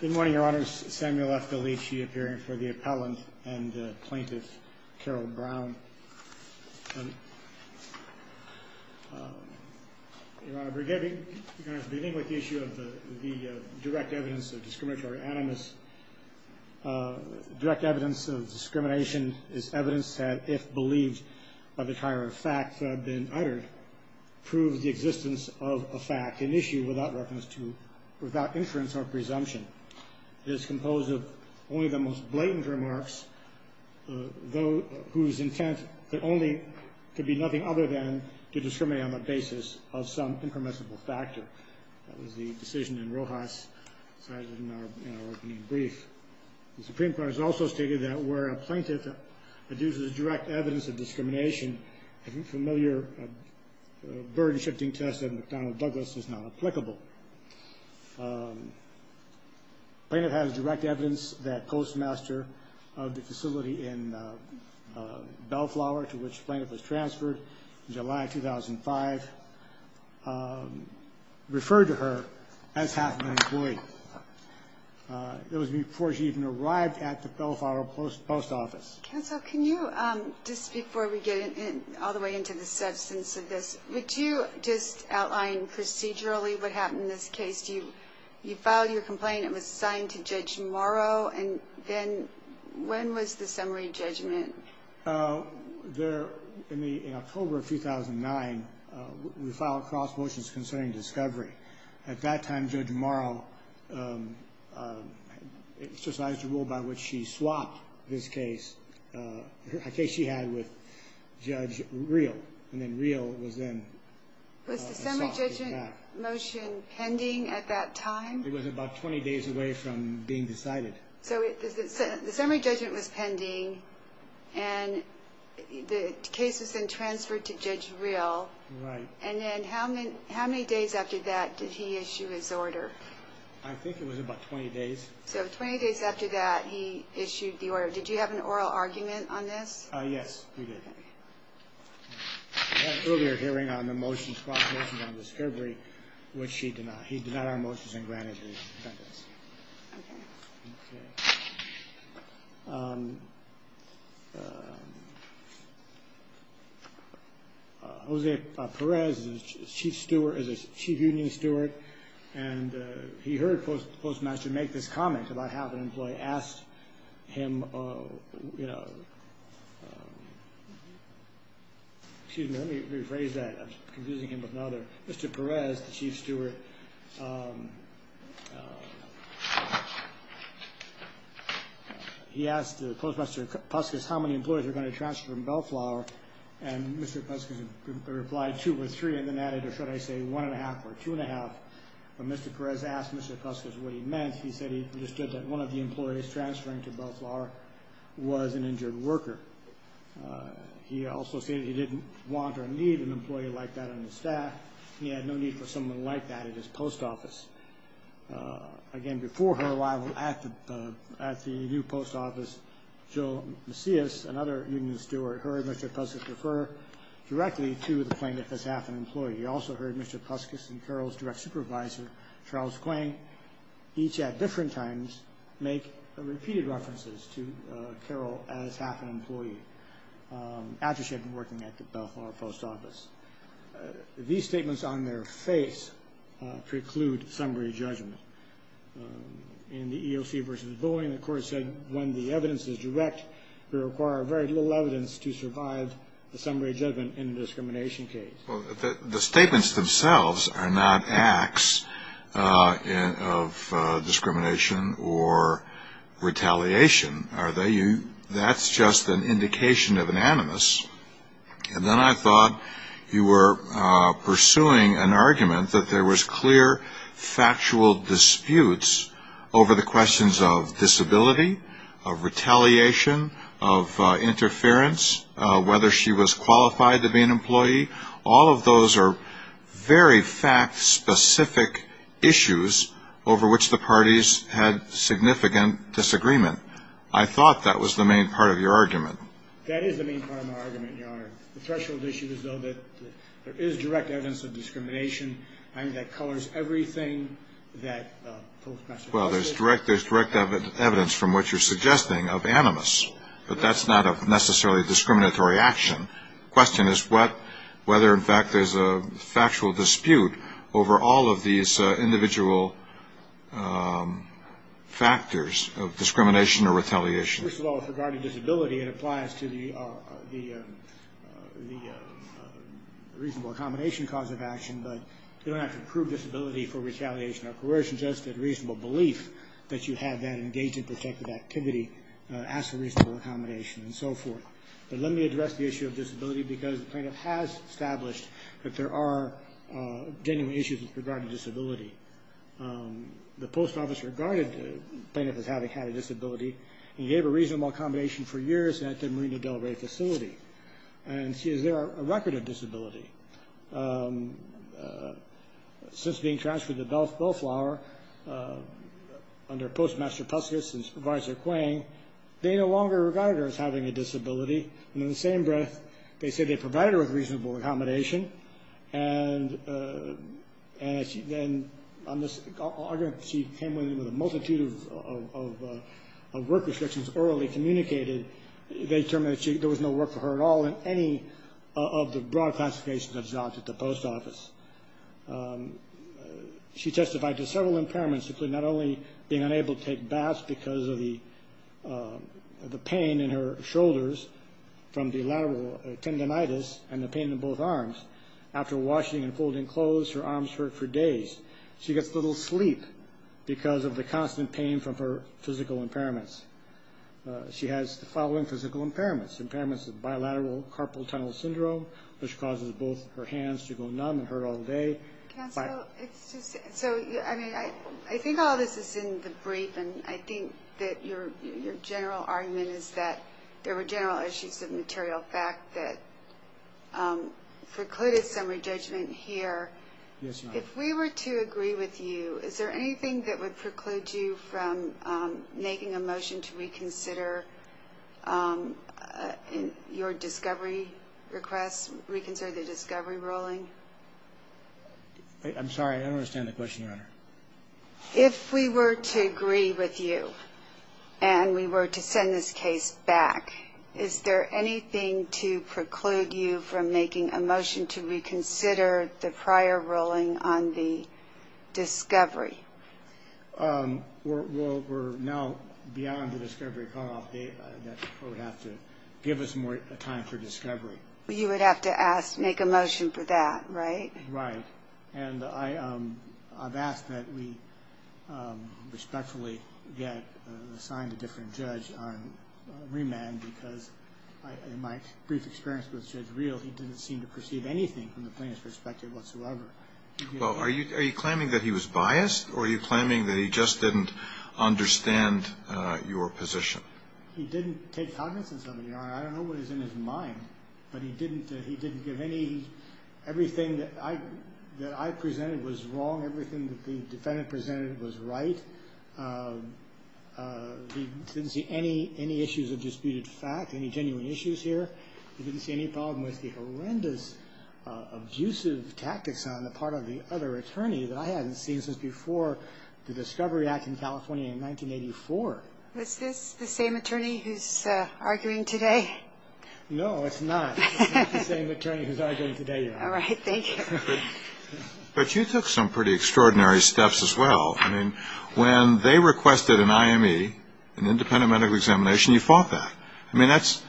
Good morning, your honors. Samuel F. DeLeach, he appearing for the appellant and plaintiff, Carol Brown. Your honor, we're beginning with the issue of the direct evidence of discriminatory animus. Direct evidence of discrimination is evidence that, if believed by the tier of facts that have been uttered, proves the existence of a fact, an issue without reference to, without inference or presumption. It is composed of only the most blatant remarks, whose intent could be nothing other than to discriminate on the basis of some impermissible factor. That was the decision in Rojas, cited in our opening brief. The Supreme Court has also stated that, where a plaintiff adduces direct evidence of discrimination, a familiar burden-shifting test of McDonnell Douglas is not applicable. Plaintiff has direct evidence that Postmaster of the facility in Bellflower, to which plaintiff was transferred in July 2005, referred to her as half an employee. It was before she even arrived at the Bellflower post office. Counsel, can you, just before we get all the way into the substance of this, would you just outline procedurally what happened in this case? You filed your complaint, it was signed to Judge Morrow, and then when was the summary judgment? In October of 2009, we filed cross motions concerning discovery. At that time, Judge Morrow exercised a rule by which she swapped this case, a case she had with Judge Reel. Was the summary judgment motion pending at that time? It was about 20 days away from being decided. So the summary judgment was pending, and the case was then transferred to Judge Reel. Right. And then how many days after that did he issue his order? I think it was about 20 days. So 20 days after that, he issued the order. Did you have an oral argument on this? Yes, we did. We had an earlier hearing on the motions, cross motions on discovery, which he denied. He denied our motions and granted the defendant's. Okay. Okay. Jose Perez is a chief union steward, and he heard Postmaster make this comment about how an employee asked him, you know, excuse me, let me rephrase that, I'm confusing him with another. Mr. Perez, the chief steward, he asked Postmaster Puskis how many employees were going to transfer from Bellflower, and Mr. Puskis replied two or three and then added, or should I say one and a half or two and a half. When Mr. Perez asked Mr. Puskis what he meant, he said he understood that one of the employees transferring to Bellflower was an injured worker. He also stated he didn't want or need an employee like that on his staff. He had no need for someone like that at his post office. Again, before her arrival at the new post office, Jill Macias, another union steward, heard Mr. Puskis refer directly to the plaintiff as half an employee. He also heard Mr. Puskis and Carol's direct supervisor, Charles Quang, each at different times make repeated references to Carol as half an employee, after she had been working at the Bellflower post office. These statements on their face preclude summary judgment. In the EOC versus Boeing, the court said when the evidence is direct, we require very little evidence to survive the summary judgment in a discrimination case. The statements themselves are not acts of discrimination or retaliation, are they? That's just an indication of an animus. And then I thought you were pursuing an argument that there was clear, factual disputes over the questions of disability, of retaliation, of interference, whether she was qualified to be an employee. All of those are very fact-specific issues over which the parties had significant disagreement. I thought that was the main part of your argument. That is the main part of my argument, Your Honor. The threshold issue is, though, that there is direct evidence of discrimination. I think that colors everything that folks must have. Well, there's direct evidence, from what you're suggesting, of animus. But that's not necessarily a discriminatory action. The question is whether, in fact, there's a factual dispute over all of these individual factors of discrimination or retaliation. First of all, regarding disability, it applies to the reasonable accommodation cause of action, but you don't have to prove disability for retaliation or coercion. It's more than just a reasonable belief that you have that engage in protective activity as a reasonable accommodation and so forth. But let me address the issue of disability, because the plaintiff has established that there are genuine issues with regard to disability. The post office regarded the plaintiff as having had a disability and gave a reasonable accommodation for years at the Marina Del Rey facility. And is there a record of disability? Since being transferred to Bellflower under Postmaster Puskis and Supervisor Quang, they no longer regarded her as having a disability. And in the same breath, they said they provided her with reasonable accommodation. And then she came in with a multitude of work restrictions orally communicated. They determined that there was no work for her at all in any of the broad classifications of jobs at the post office. She testified to several impairments, including not only being unable to take baths because of the pain in her shoulders from the lateral tendinitis and the pain in both arms. After washing and folding clothes, her arms hurt for days. She gets little sleep because of the constant pain from her physical impairments. She has the following physical impairments. Impairments of bilateral carpal tunnel syndrome, which causes both her hands to go numb and hurt all day. Counsel, I think all this is in the brief, and I think that your general argument is that there were general issues of material fact that precluded some re-judgment here. Yes, Your Honor. If we were to agree with you, is there anything that would preclude you from making a motion to reconsider your discovery request, reconsider the discovery ruling? I'm sorry, I don't understand the question, Your Honor. If we were to agree with you and we were to send this case back, is there anything to preclude you from making a motion to reconsider the prior ruling on the discovery? Well, we're now beyond the discovery call. They would have to give us more time for discovery. You would have to ask, make a motion for that, right? Right. And I've asked that we respectfully get assigned a different judge on remand because in my brief experience with Judge Reel, he didn't seem to perceive anything from the plaintiff's perspective whatsoever. Well, are you claiming that he was biased, or are you claiming that he just didn't understand your position? He didn't take cognizance of it, Your Honor. I don't know what is in his mind, but he didn't give any, everything that I presented was wrong, everything that the defendant presented was right. He didn't see any issues of disputed fact, any genuine issues here. He didn't see any problem with the horrendous abusive tactics on the part of the other attorney that I hadn't seen since before the Discovery Act in California in 1984. Was this the same attorney who's arguing today? No, it's not. It's not the same attorney who's arguing today, Your Honor. All right. Thank you. But you took some pretty extraordinary steps as well. I mean, when they requested an IME, an independent medical examination, you fought that. I mean, that's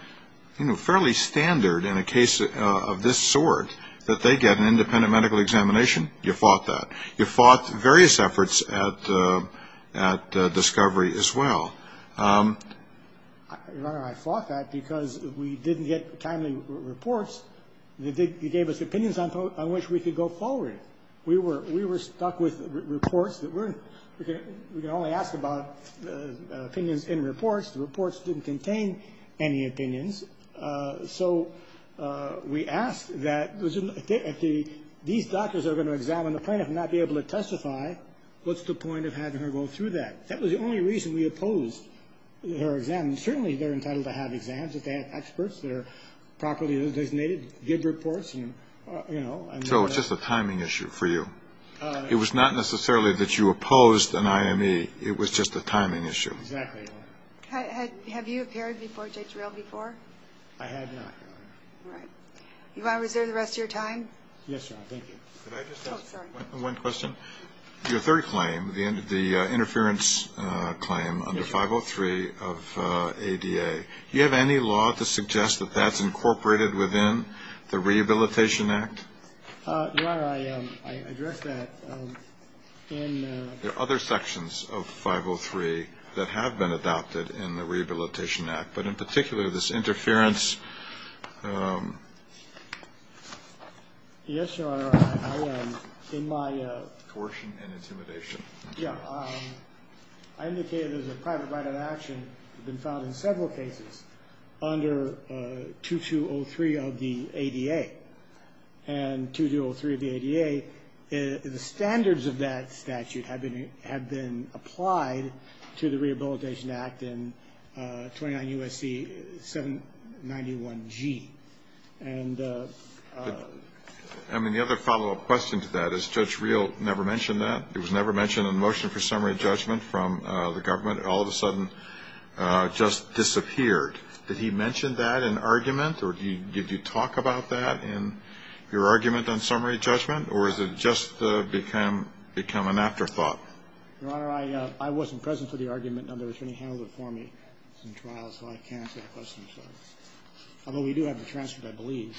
fairly standard in a case of this sort, that they get an independent medical examination, you fought that. You fought various efforts at Discovery as well. Your Honor, I fought that because we didn't get timely reports that gave us opinions on which we could go forward. We were stuck with reports that we're going to only ask about opinions in reports. The reports didn't contain any opinions. So we asked that if these doctors are going to examine the plaintiff and not be able to testify, what's the point of having her go through that? That was the only reason we opposed her exam. Certainly they're entitled to have exams if they have experts that are properly designated to give reports. So it's just a timing issue for you. It was not necessarily that you opposed an IME. It was just a timing issue. Exactly, Your Honor. Have you appeared before JTRIL before? I have not, Your Honor. All right. You want to reserve the rest of your time? Yes, Your Honor. Thank you. Can I just ask one question? Oh, sorry. Your third claim, the interference claim under 503 of ADA, do you have any law to suggest that that's incorporated within the Rehabilitation Act? Your Honor, I addressed that in the other sections of 503 that have been adopted in the Rehabilitation Act, but in particular this interference. Yes, Your Honor. In my portion and intimidation. Yeah. I indicated there's a private right of action that's been filed in several cases under 2203 of the ADA. And 2203 of the ADA, the standards of that statute have been applied to the Rehabilitation Act in 29 U.S.C. 791G. I mean, the other follow-up question to that is Judge Rehl never mentioned that? It was never mentioned in the motion for summary judgment from the government? It all of a sudden just disappeared. Did he mention that in argument? Or did you talk about that in your argument on summary judgment? Or has it just become an afterthought? Your Honor, I wasn't present for the argument. It's in trial, so I can't answer that question. Although we do have the transcript, I believe.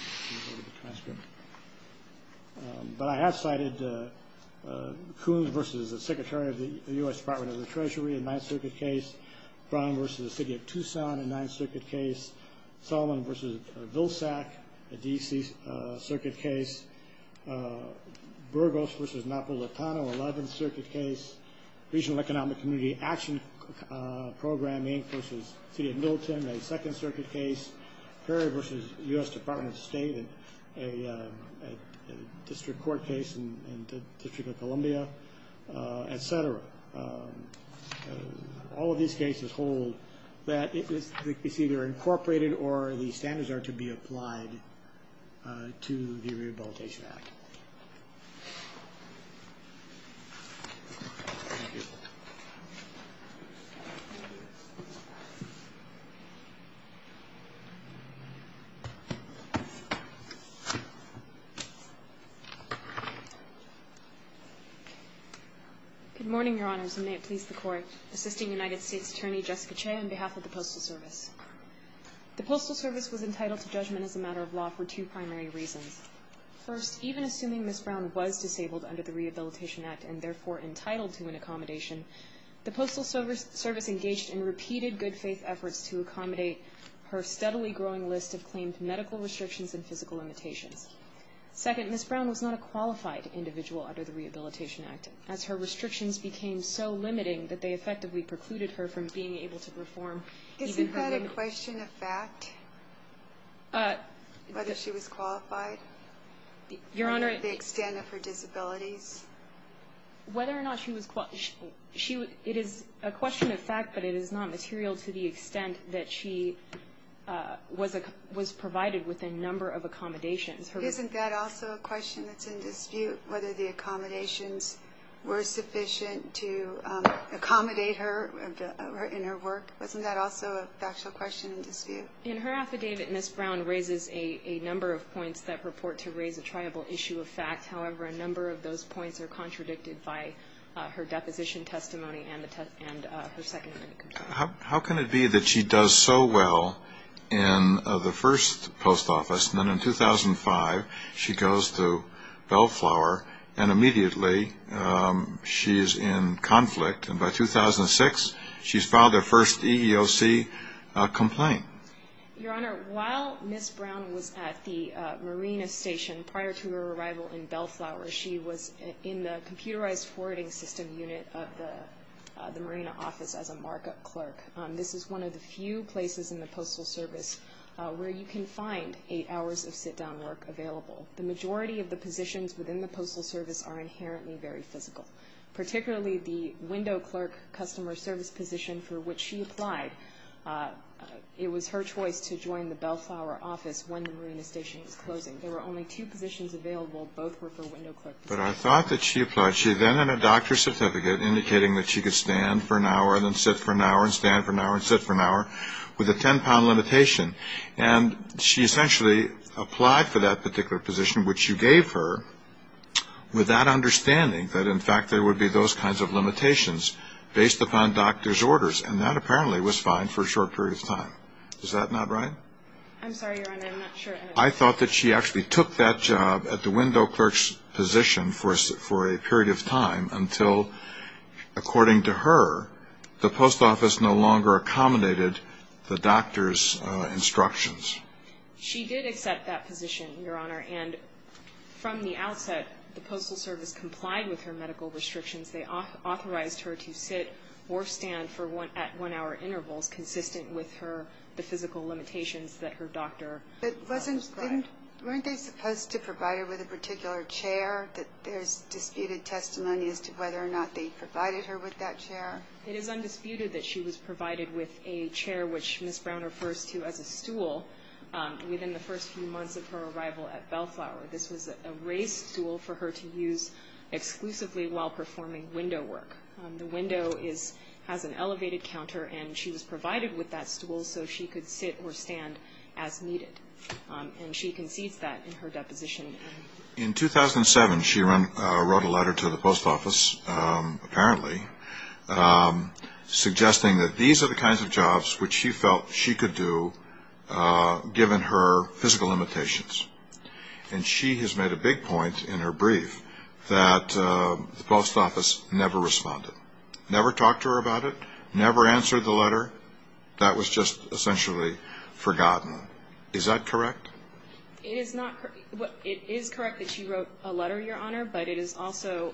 But I have cited Coon v. Secretary of the U.S. Department of the Treasury in the Ninth Circuit case, Brown v. City of Tucson in the Ninth Circuit case, Solomon v. Vilsack in the D.C. Circuit case, Burgos v. Napolitano, Eleventh Circuit case, Regional Economic Community Action Programming v. City of Middleton, a Second Circuit case, Perry v. U.S. Department of State, a District Court case in the District of Columbia, etc. All of these cases hold that it's either incorporated or the standards are to be applied to the Rehabilitation Act. Thank you. Good morning, Your Honors, and may it please the Court. Assisting United States Attorney Jessica Chea on behalf of the Postal Service. The Postal Service was entitled to judgment as a matter of law for two primary reasons. First, even assuming Ms. Brown was disabled under the Rehabilitation Act and therefore entitled to an accommodation, the Postal Service engaged in repeated good-faith efforts to accommodate her steadily growing list of claimed medical restrictions and physical limitations. Second, Ms. Brown was not a qualified individual under the Rehabilitation Act, as her restrictions became so limiting that they effectively precluded her from being able to perform even her limitations. Is that a question of fact? Whether she was qualified? Your Honor. The extent of her disabilities? Whether or not she was qualified. It is a question of fact, but it is not material to the extent that she was provided with a number of accommodations. Isn't that also a question that's in dispute, whether the accommodations were sufficient to accommodate her in her work? Wasn't that also a factual question in dispute? In her affidavit, Ms. Brown raises a number of points that purport to raise a triable issue of fact. However, a number of those points are contradicted by her deposition testimony and her second limit. How can it be that she does so well in the first post office, and then in 2005 she goes to Bellflower, and immediately she is in conflict, and by 2006 she's filed her first EEOC complaint? Your Honor, while Ms. Brown was at the marina station prior to her arrival in Bellflower, she was in the computerized forwarding system unit of the marina office as a markup clerk. This is one of the few places in the Postal Service where you can find eight hours of sit-down work available. The majority of the positions within the Postal Service are inherently very physical, particularly the window clerk customer service position for which she applied. It was her choice to join the Bellflower office when the marina station was closing. There were only two positions available. Both were for window clerk positions. But I thought that she applied. She then had a doctor's certificate indicating that she could stand for an hour and then sit for an hour and stand for an hour and sit for an hour with a 10-pound limitation. And she essentially applied for that particular position, which you gave her with that understanding that, in fact, there would be those kinds of limitations based upon doctor's orders, and that apparently was fine for a short period of time. Is that not right? I'm sorry, Your Honor. I'm not sure. I thought that she actually took that job at the window clerk's position for a period of time until, according to her, the post office no longer accommodated the doctor's instructions. She did accept that position, Your Honor, and from the outset the Postal Service complied with her medical restrictions. They authorized her to sit or stand at one-hour intervals, consistent with the physical limitations that her doctor prescribed. But weren't they supposed to provide her with a particular chair? There's disputed testimony as to whether or not they provided her with that chair. It is undisputed that she was provided with a chair, which Ms. Brown refers to as a stool, within the first few months of her arrival at Bellflower. This was a raised stool for her to use exclusively while performing window work. The window has an elevated counter, and she was provided with that stool so she could sit or stand as needed. And she concedes that in her deposition. In 2007, she wrote a letter to the post office, apparently, suggesting that these are the kinds of jobs which she felt she could do given her physical limitations. And she has made a big point in her brief that the post office never responded, that was just essentially forgotten. Is that correct? It is correct that she wrote a letter, Your Honor, but it is also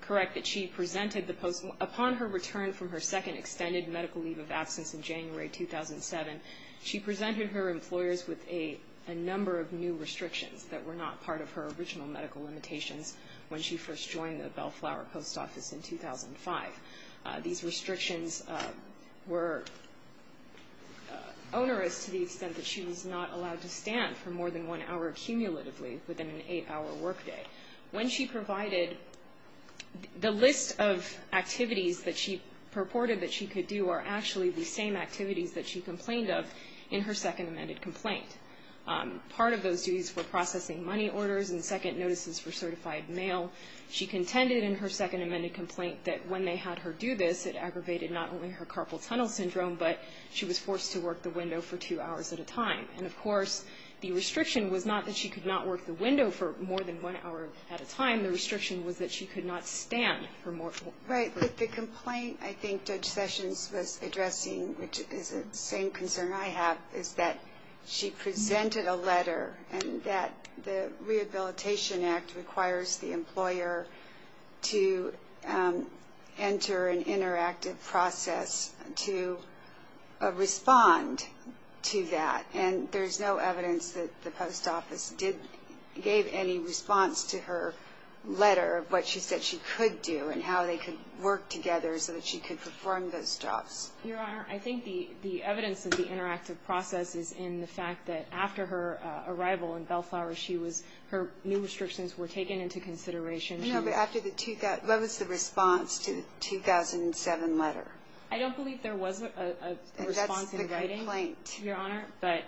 correct that she presented the post office. Upon her return from her second extended medical leave of absence in January 2007, she presented her employers with a number of new restrictions that were not part of her original medical limitations when she first joined the Bellflower post office in 2005. These restrictions were onerous to the extent that she was not allowed to stand for more than one hour cumulatively within an eight-hour workday. When she provided the list of activities that she purported that she could do are actually the same activities that she complained of in her second amended complaint. Part of those duties were processing money orders and second notices for certified mail. She contended in her second amended complaint that when they had her do this, it aggravated not only her carpal tunnel syndrome, but she was forced to work the window for two hours at a time. And, of course, the restriction was not that she could not work the window for more than one hour at a time. The restriction was that she could not stand for more. Right. But the complaint I think Judge Sessions was addressing, which is the same concern I have, is that she presented a letter and that the Rehabilitation Act requires the employer to enter an interactive process to respond to that. And there's no evidence that the post office gave any response to her letter of what she said she could do and how they could work together so that she could perform those jobs. Your Honor, I think the evidence of the interactive process is in the fact that after her arrival in Bellflower, her new restrictions were taken into consideration. No, but what was the response to the 2007 letter? I don't believe there was a response in writing. That's the complaint. Your Honor, but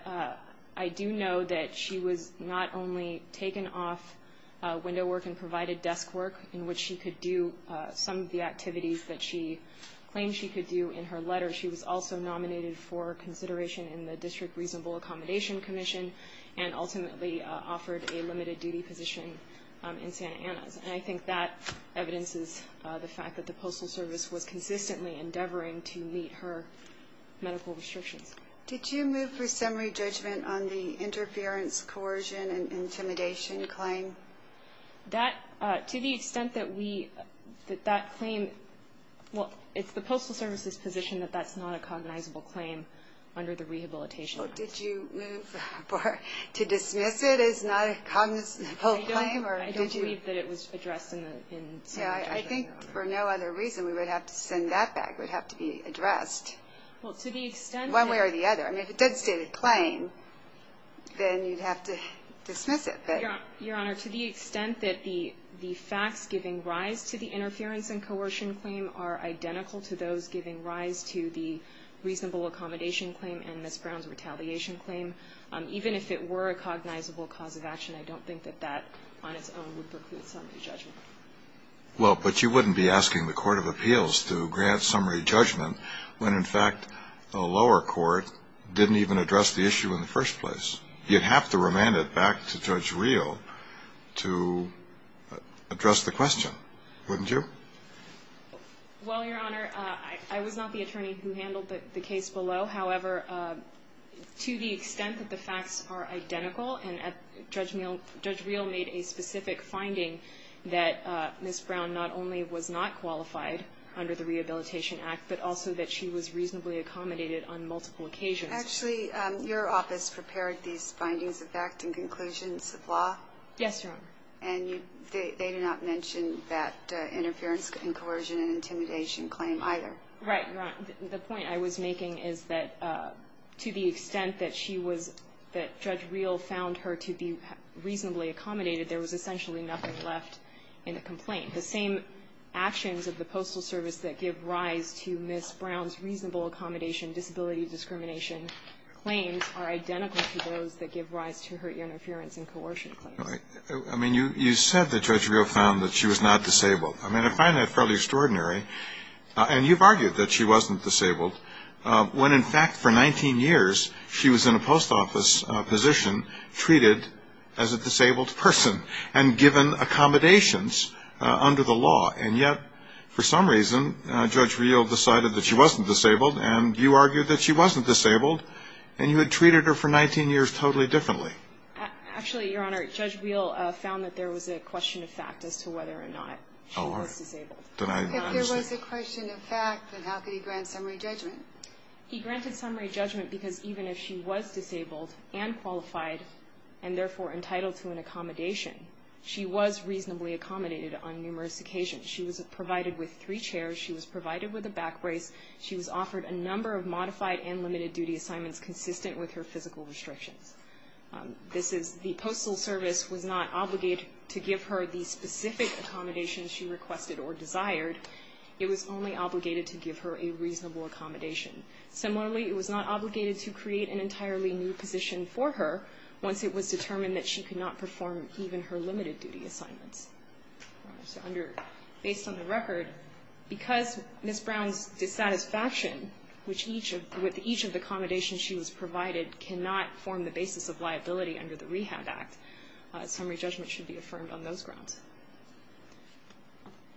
I do know that she was not only taken off window work and provided desk work in which she could do some of the activities that she claimed she could do in her letter. She was also nominated for consideration in the District Reasonable Accommodation Commission and ultimately offered a limited duty position in Santa Ana. And I think that evidences the fact that the Postal Service was consistently endeavoring to meet her medical restrictions. Did you move for summary judgment on the interference, coercion, and intimidation claim? To the extent that that claim, well, it's the Postal Service's position that that's not a cognizable claim under the Rehabilitation Act. Did you move to dismiss it as not a cognizable claim? I don't believe that it was addressed in the summary judgment. I think for no other reason we would have to send that back. It would have to be addressed. Well, to the extent that One way or the other. I mean, if it did state a claim, then you'd have to dismiss it. Your Honor, to the extent that the facts giving rise to the interference and coercion claim are identical to those giving rise to the reasonable accommodation claim and Ms. Brown's retaliation claim, even if it were a cognizable cause of action, I don't think that that on its own would preclude summary judgment. Well, but you wouldn't be asking the Court of Appeals to grant summary judgment when, in fact, the lower court didn't even address the issue in the first place. You'd have to remand it back to Judge Reel to address the question, wouldn't you? Well, Your Honor, I was not the attorney who handled the case below. However, to the extent that the facts are identical, and Judge Reel made a specific finding that Ms. Brown not only was not qualified under the Rehabilitation Act, but also that she was reasonably accommodated on multiple occasions. Actually, your office prepared these findings of fact and conclusions of law? Yes, Your Honor. And they did not mention that interference and coercion and intimidation claim either? Right, Your Honor. The point I was making is that to the extent that Judge Reel found her to be reasonably accommodated, there was essentially nothing left in the complaint. The same actions of the Postal Service that give rise to Ms. Brown's reasonable accommodation, disability discrimination claims are identical to those that give rise to her interference and coercion claims. I mean, you said that Judge Reel found that she was not disabled. I mean, I find that fairly extraordinary. And you've argued that she wasn't disabled when, in fact, for 19 years, she was in a post office position treated as a disabled person and given accommodations under the law. And yet, for some reason, Judge Reel decided that she wasn't disabled, and you argued that she wasn't disabled, and you had treated her for 19 years totally differently. Actually, Your Honor, Judge Reel found that there was a question of fact as to whether or not she was disabled. Oh, I didn't understand. If there was a question of fact, then how could he grant summary judgment? He granted summary judgment because even if she was disabled and qualified and therefore entitled to an accommodation, she was reasonably accommodated on numerous occasions. She was provided with three chairs. She was provided with a back brace. She was offered a number of modified and limited-duty assignments consistent with her physical restrictions. The Postal Service was not obligated to give her the specific accommodations she requested or desired. It was only obligated to give her a reasonable accommodation. Similarly, it was not obligated to create an entirely new position for her once it was determined that she could not perform even her limited-duty assignments. Your Honor, so under – based on the record, because Ms. Brown's dissatisfaction with each of the accommodations she was provided cannot form the basis of liability under the Rehab Act, summary judgment should be affirmed on those grounds.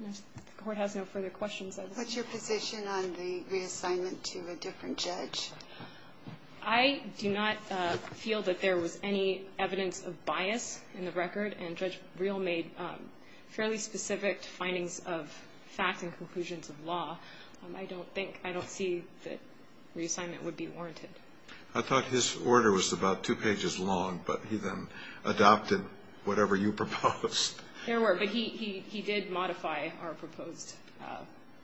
If the Court has no further questions, I would like to move on. What's your position on the reassignment to a different judge? I do not feel that there was any evidence of bias in the record, and Judge Rehl made fairly specific findings of facts and conclusions of law. I don't think – I don't see that reassignment would be warranted. I thought his order was about two pages long, but he then adopted whatever you proposed. There were, but he did modify our proposed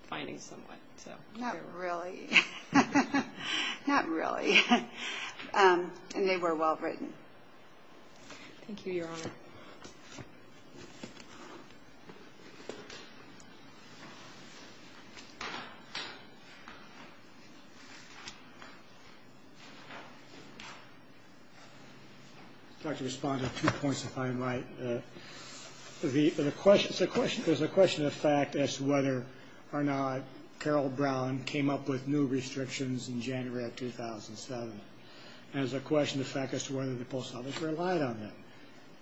findings somewhat. Not really. Not really. And they were well written. Thank you, Your Honor. I'd like to respond to two points, if I might. There's a question of fact as to whether or not Carol Brown came up with new restrictions in January of 2007. And there's a question of fact as to whether the Post Office relied on them.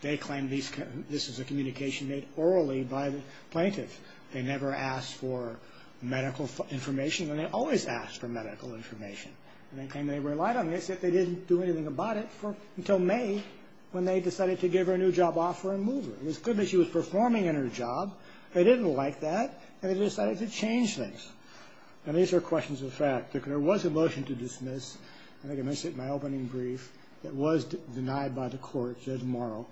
They claim this is a communication made orally by the plaintiff. They never asked for medical information, and they always ask for medical information. And they claim they relied on this, yet they didn't do anything about it until May when they decided to give her a new job offer and move her. And as good as she was performing in her job, they didn't like that, and they decided to change things. And these are questions of fact. There was a motion to dismiss. I think I mentioned it in my opening brief. It was denied by the Court, Judge Morrow.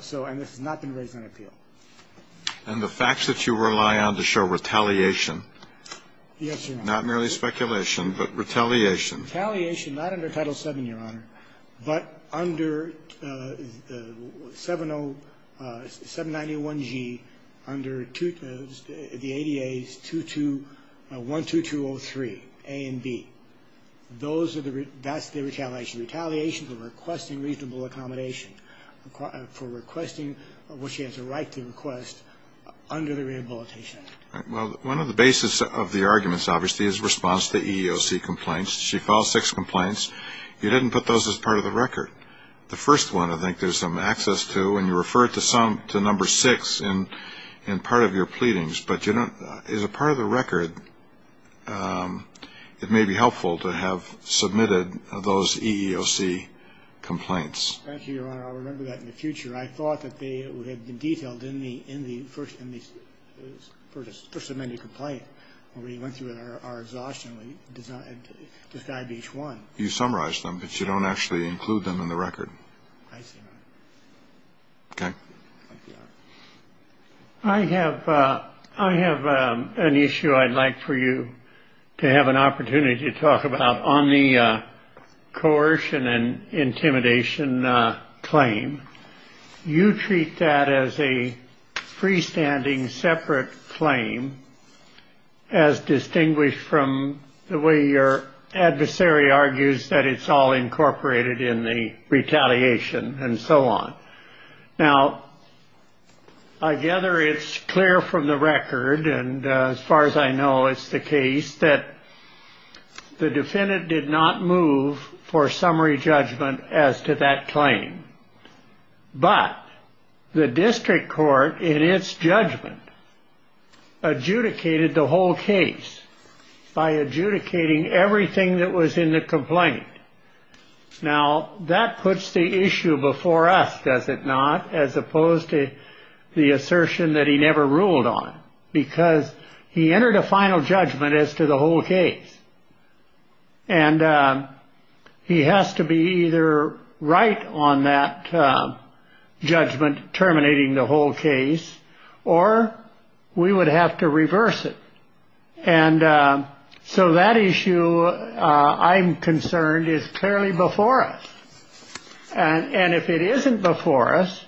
So – and this has not been raised on appeal. And the facts that you rely on to show retaliation? Yes, Your Honor. Not merely speculation, but retaliation. Retaliation not under Title VII, Your Honor, but under 791G, under the ADA's 2212203, A and B. Those are the – that's the retaliation. Retaliation for requesting reasonable accommodation, for requesting what she has a right to request under the Rehabilitation Act. Well, one of the basis of the arguments, obviously, is response to EEOC complaints. She filed six complaints. You didn't put those as part of the record. The first one, I think, there's some access to, and you refer to some – to number six in part of your pleadings. But you don't – as a part of the record, it may be helpful to have submitted those EEOC complaints. Thank you, Your Honor. I'll remember that in the future. I thought that they would have been detailed in the first – in the first amended complaint. But when we went through our exhaustion, we decided to describe each one. You summarized them, but you don't actually include them in the record. I see, Your Honor. Okay. Thank you, Your Honor. I have – I have an issue I'd like for you to have an opportunity to talk about on the coercion and intimidation claim. You treat that as a freestanding separate claim as distinguished from the way your adversary argues that it's all incorporated in the retaliation and so on. Now, I gather it's clear from the record, and as far as I know, it's the case that the defendant did not move for summary judgment as to that claim. But the district court, in its judgment, adjudicated the whole case by adjudicating everything that was in the complaint. Now, that puts the issue before us, does it not, as opposed to the assertion that he never ruled on, because he entered a final judgment as to the whole case. And he has to be either right on that judgment, terminating the whole case, or we would have to reverse it. And so that issue, I'm concerned, is clearly before us. And if it isn't before us,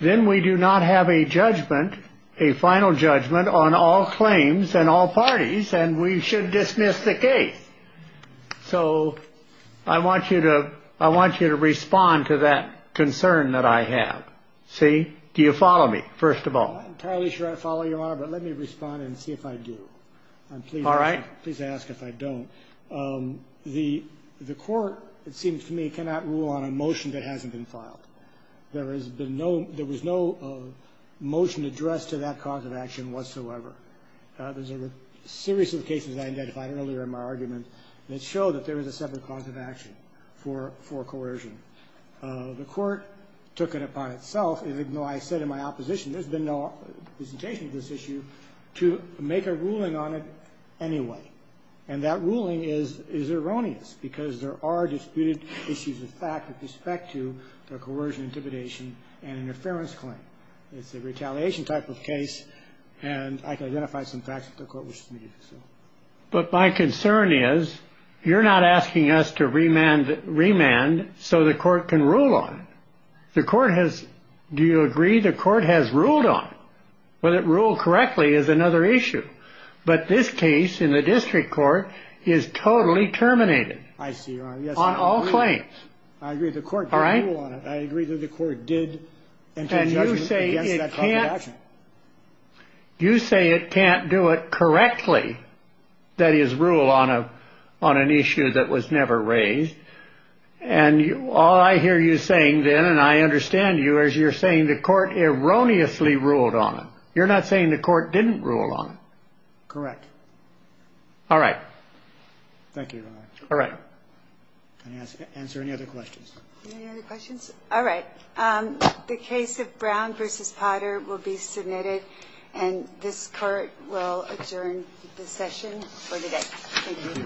then we do not have a judgment, a final judgment, on all claims and all parties, and we should dismiss the case. So I want you to respond to that concern that I have. See? Do you follow me, first of all? I'm entirely sure I follow you, Your Honor, but let me respond and see if I do. All right. Please ask if I don't. The court, it seems to me, cannot rule on a motion that hasn't been filed. There was no motion addressed to that cause of action whatsoever. There's a series of cases I identified earlier in my argument that show that there is a separate cause of action for coercion. The court took it upon itself, even though I said in my opposition there's been no presentation of this issue, to make a ruling on it anyway. And that ruling is erroneous, because there are disputed issues of fact with respect to the coercion, intimidation, and interference claim. It's a retaliation type of case, and I can identify some facts that the court wishes to meet. But my concern is, you're not asking us to remand so the court can rule on it. The court has, do you agree, the court has ruled on it. Whether it ruled correctly is another issue. But this case in the district court is totally terminated. I see, Your Honor. On all claims. I agree. The court did rule on it. All right? I agree that the court did. And you say it can't. You say it can't do it correctly, that is, rule on an issue that was never raised. And all I hear you saying then, and I understand you, is you're saying the court erroneously ruled on it. You're not saying the court didn't rule on it. Correct. All right. Thank you, Your Honor. All right. Can I answer any other questions? All right. The case of Brown v. Potter will be submitted and this court will adjourn the session for today. Thank you, Your Honor.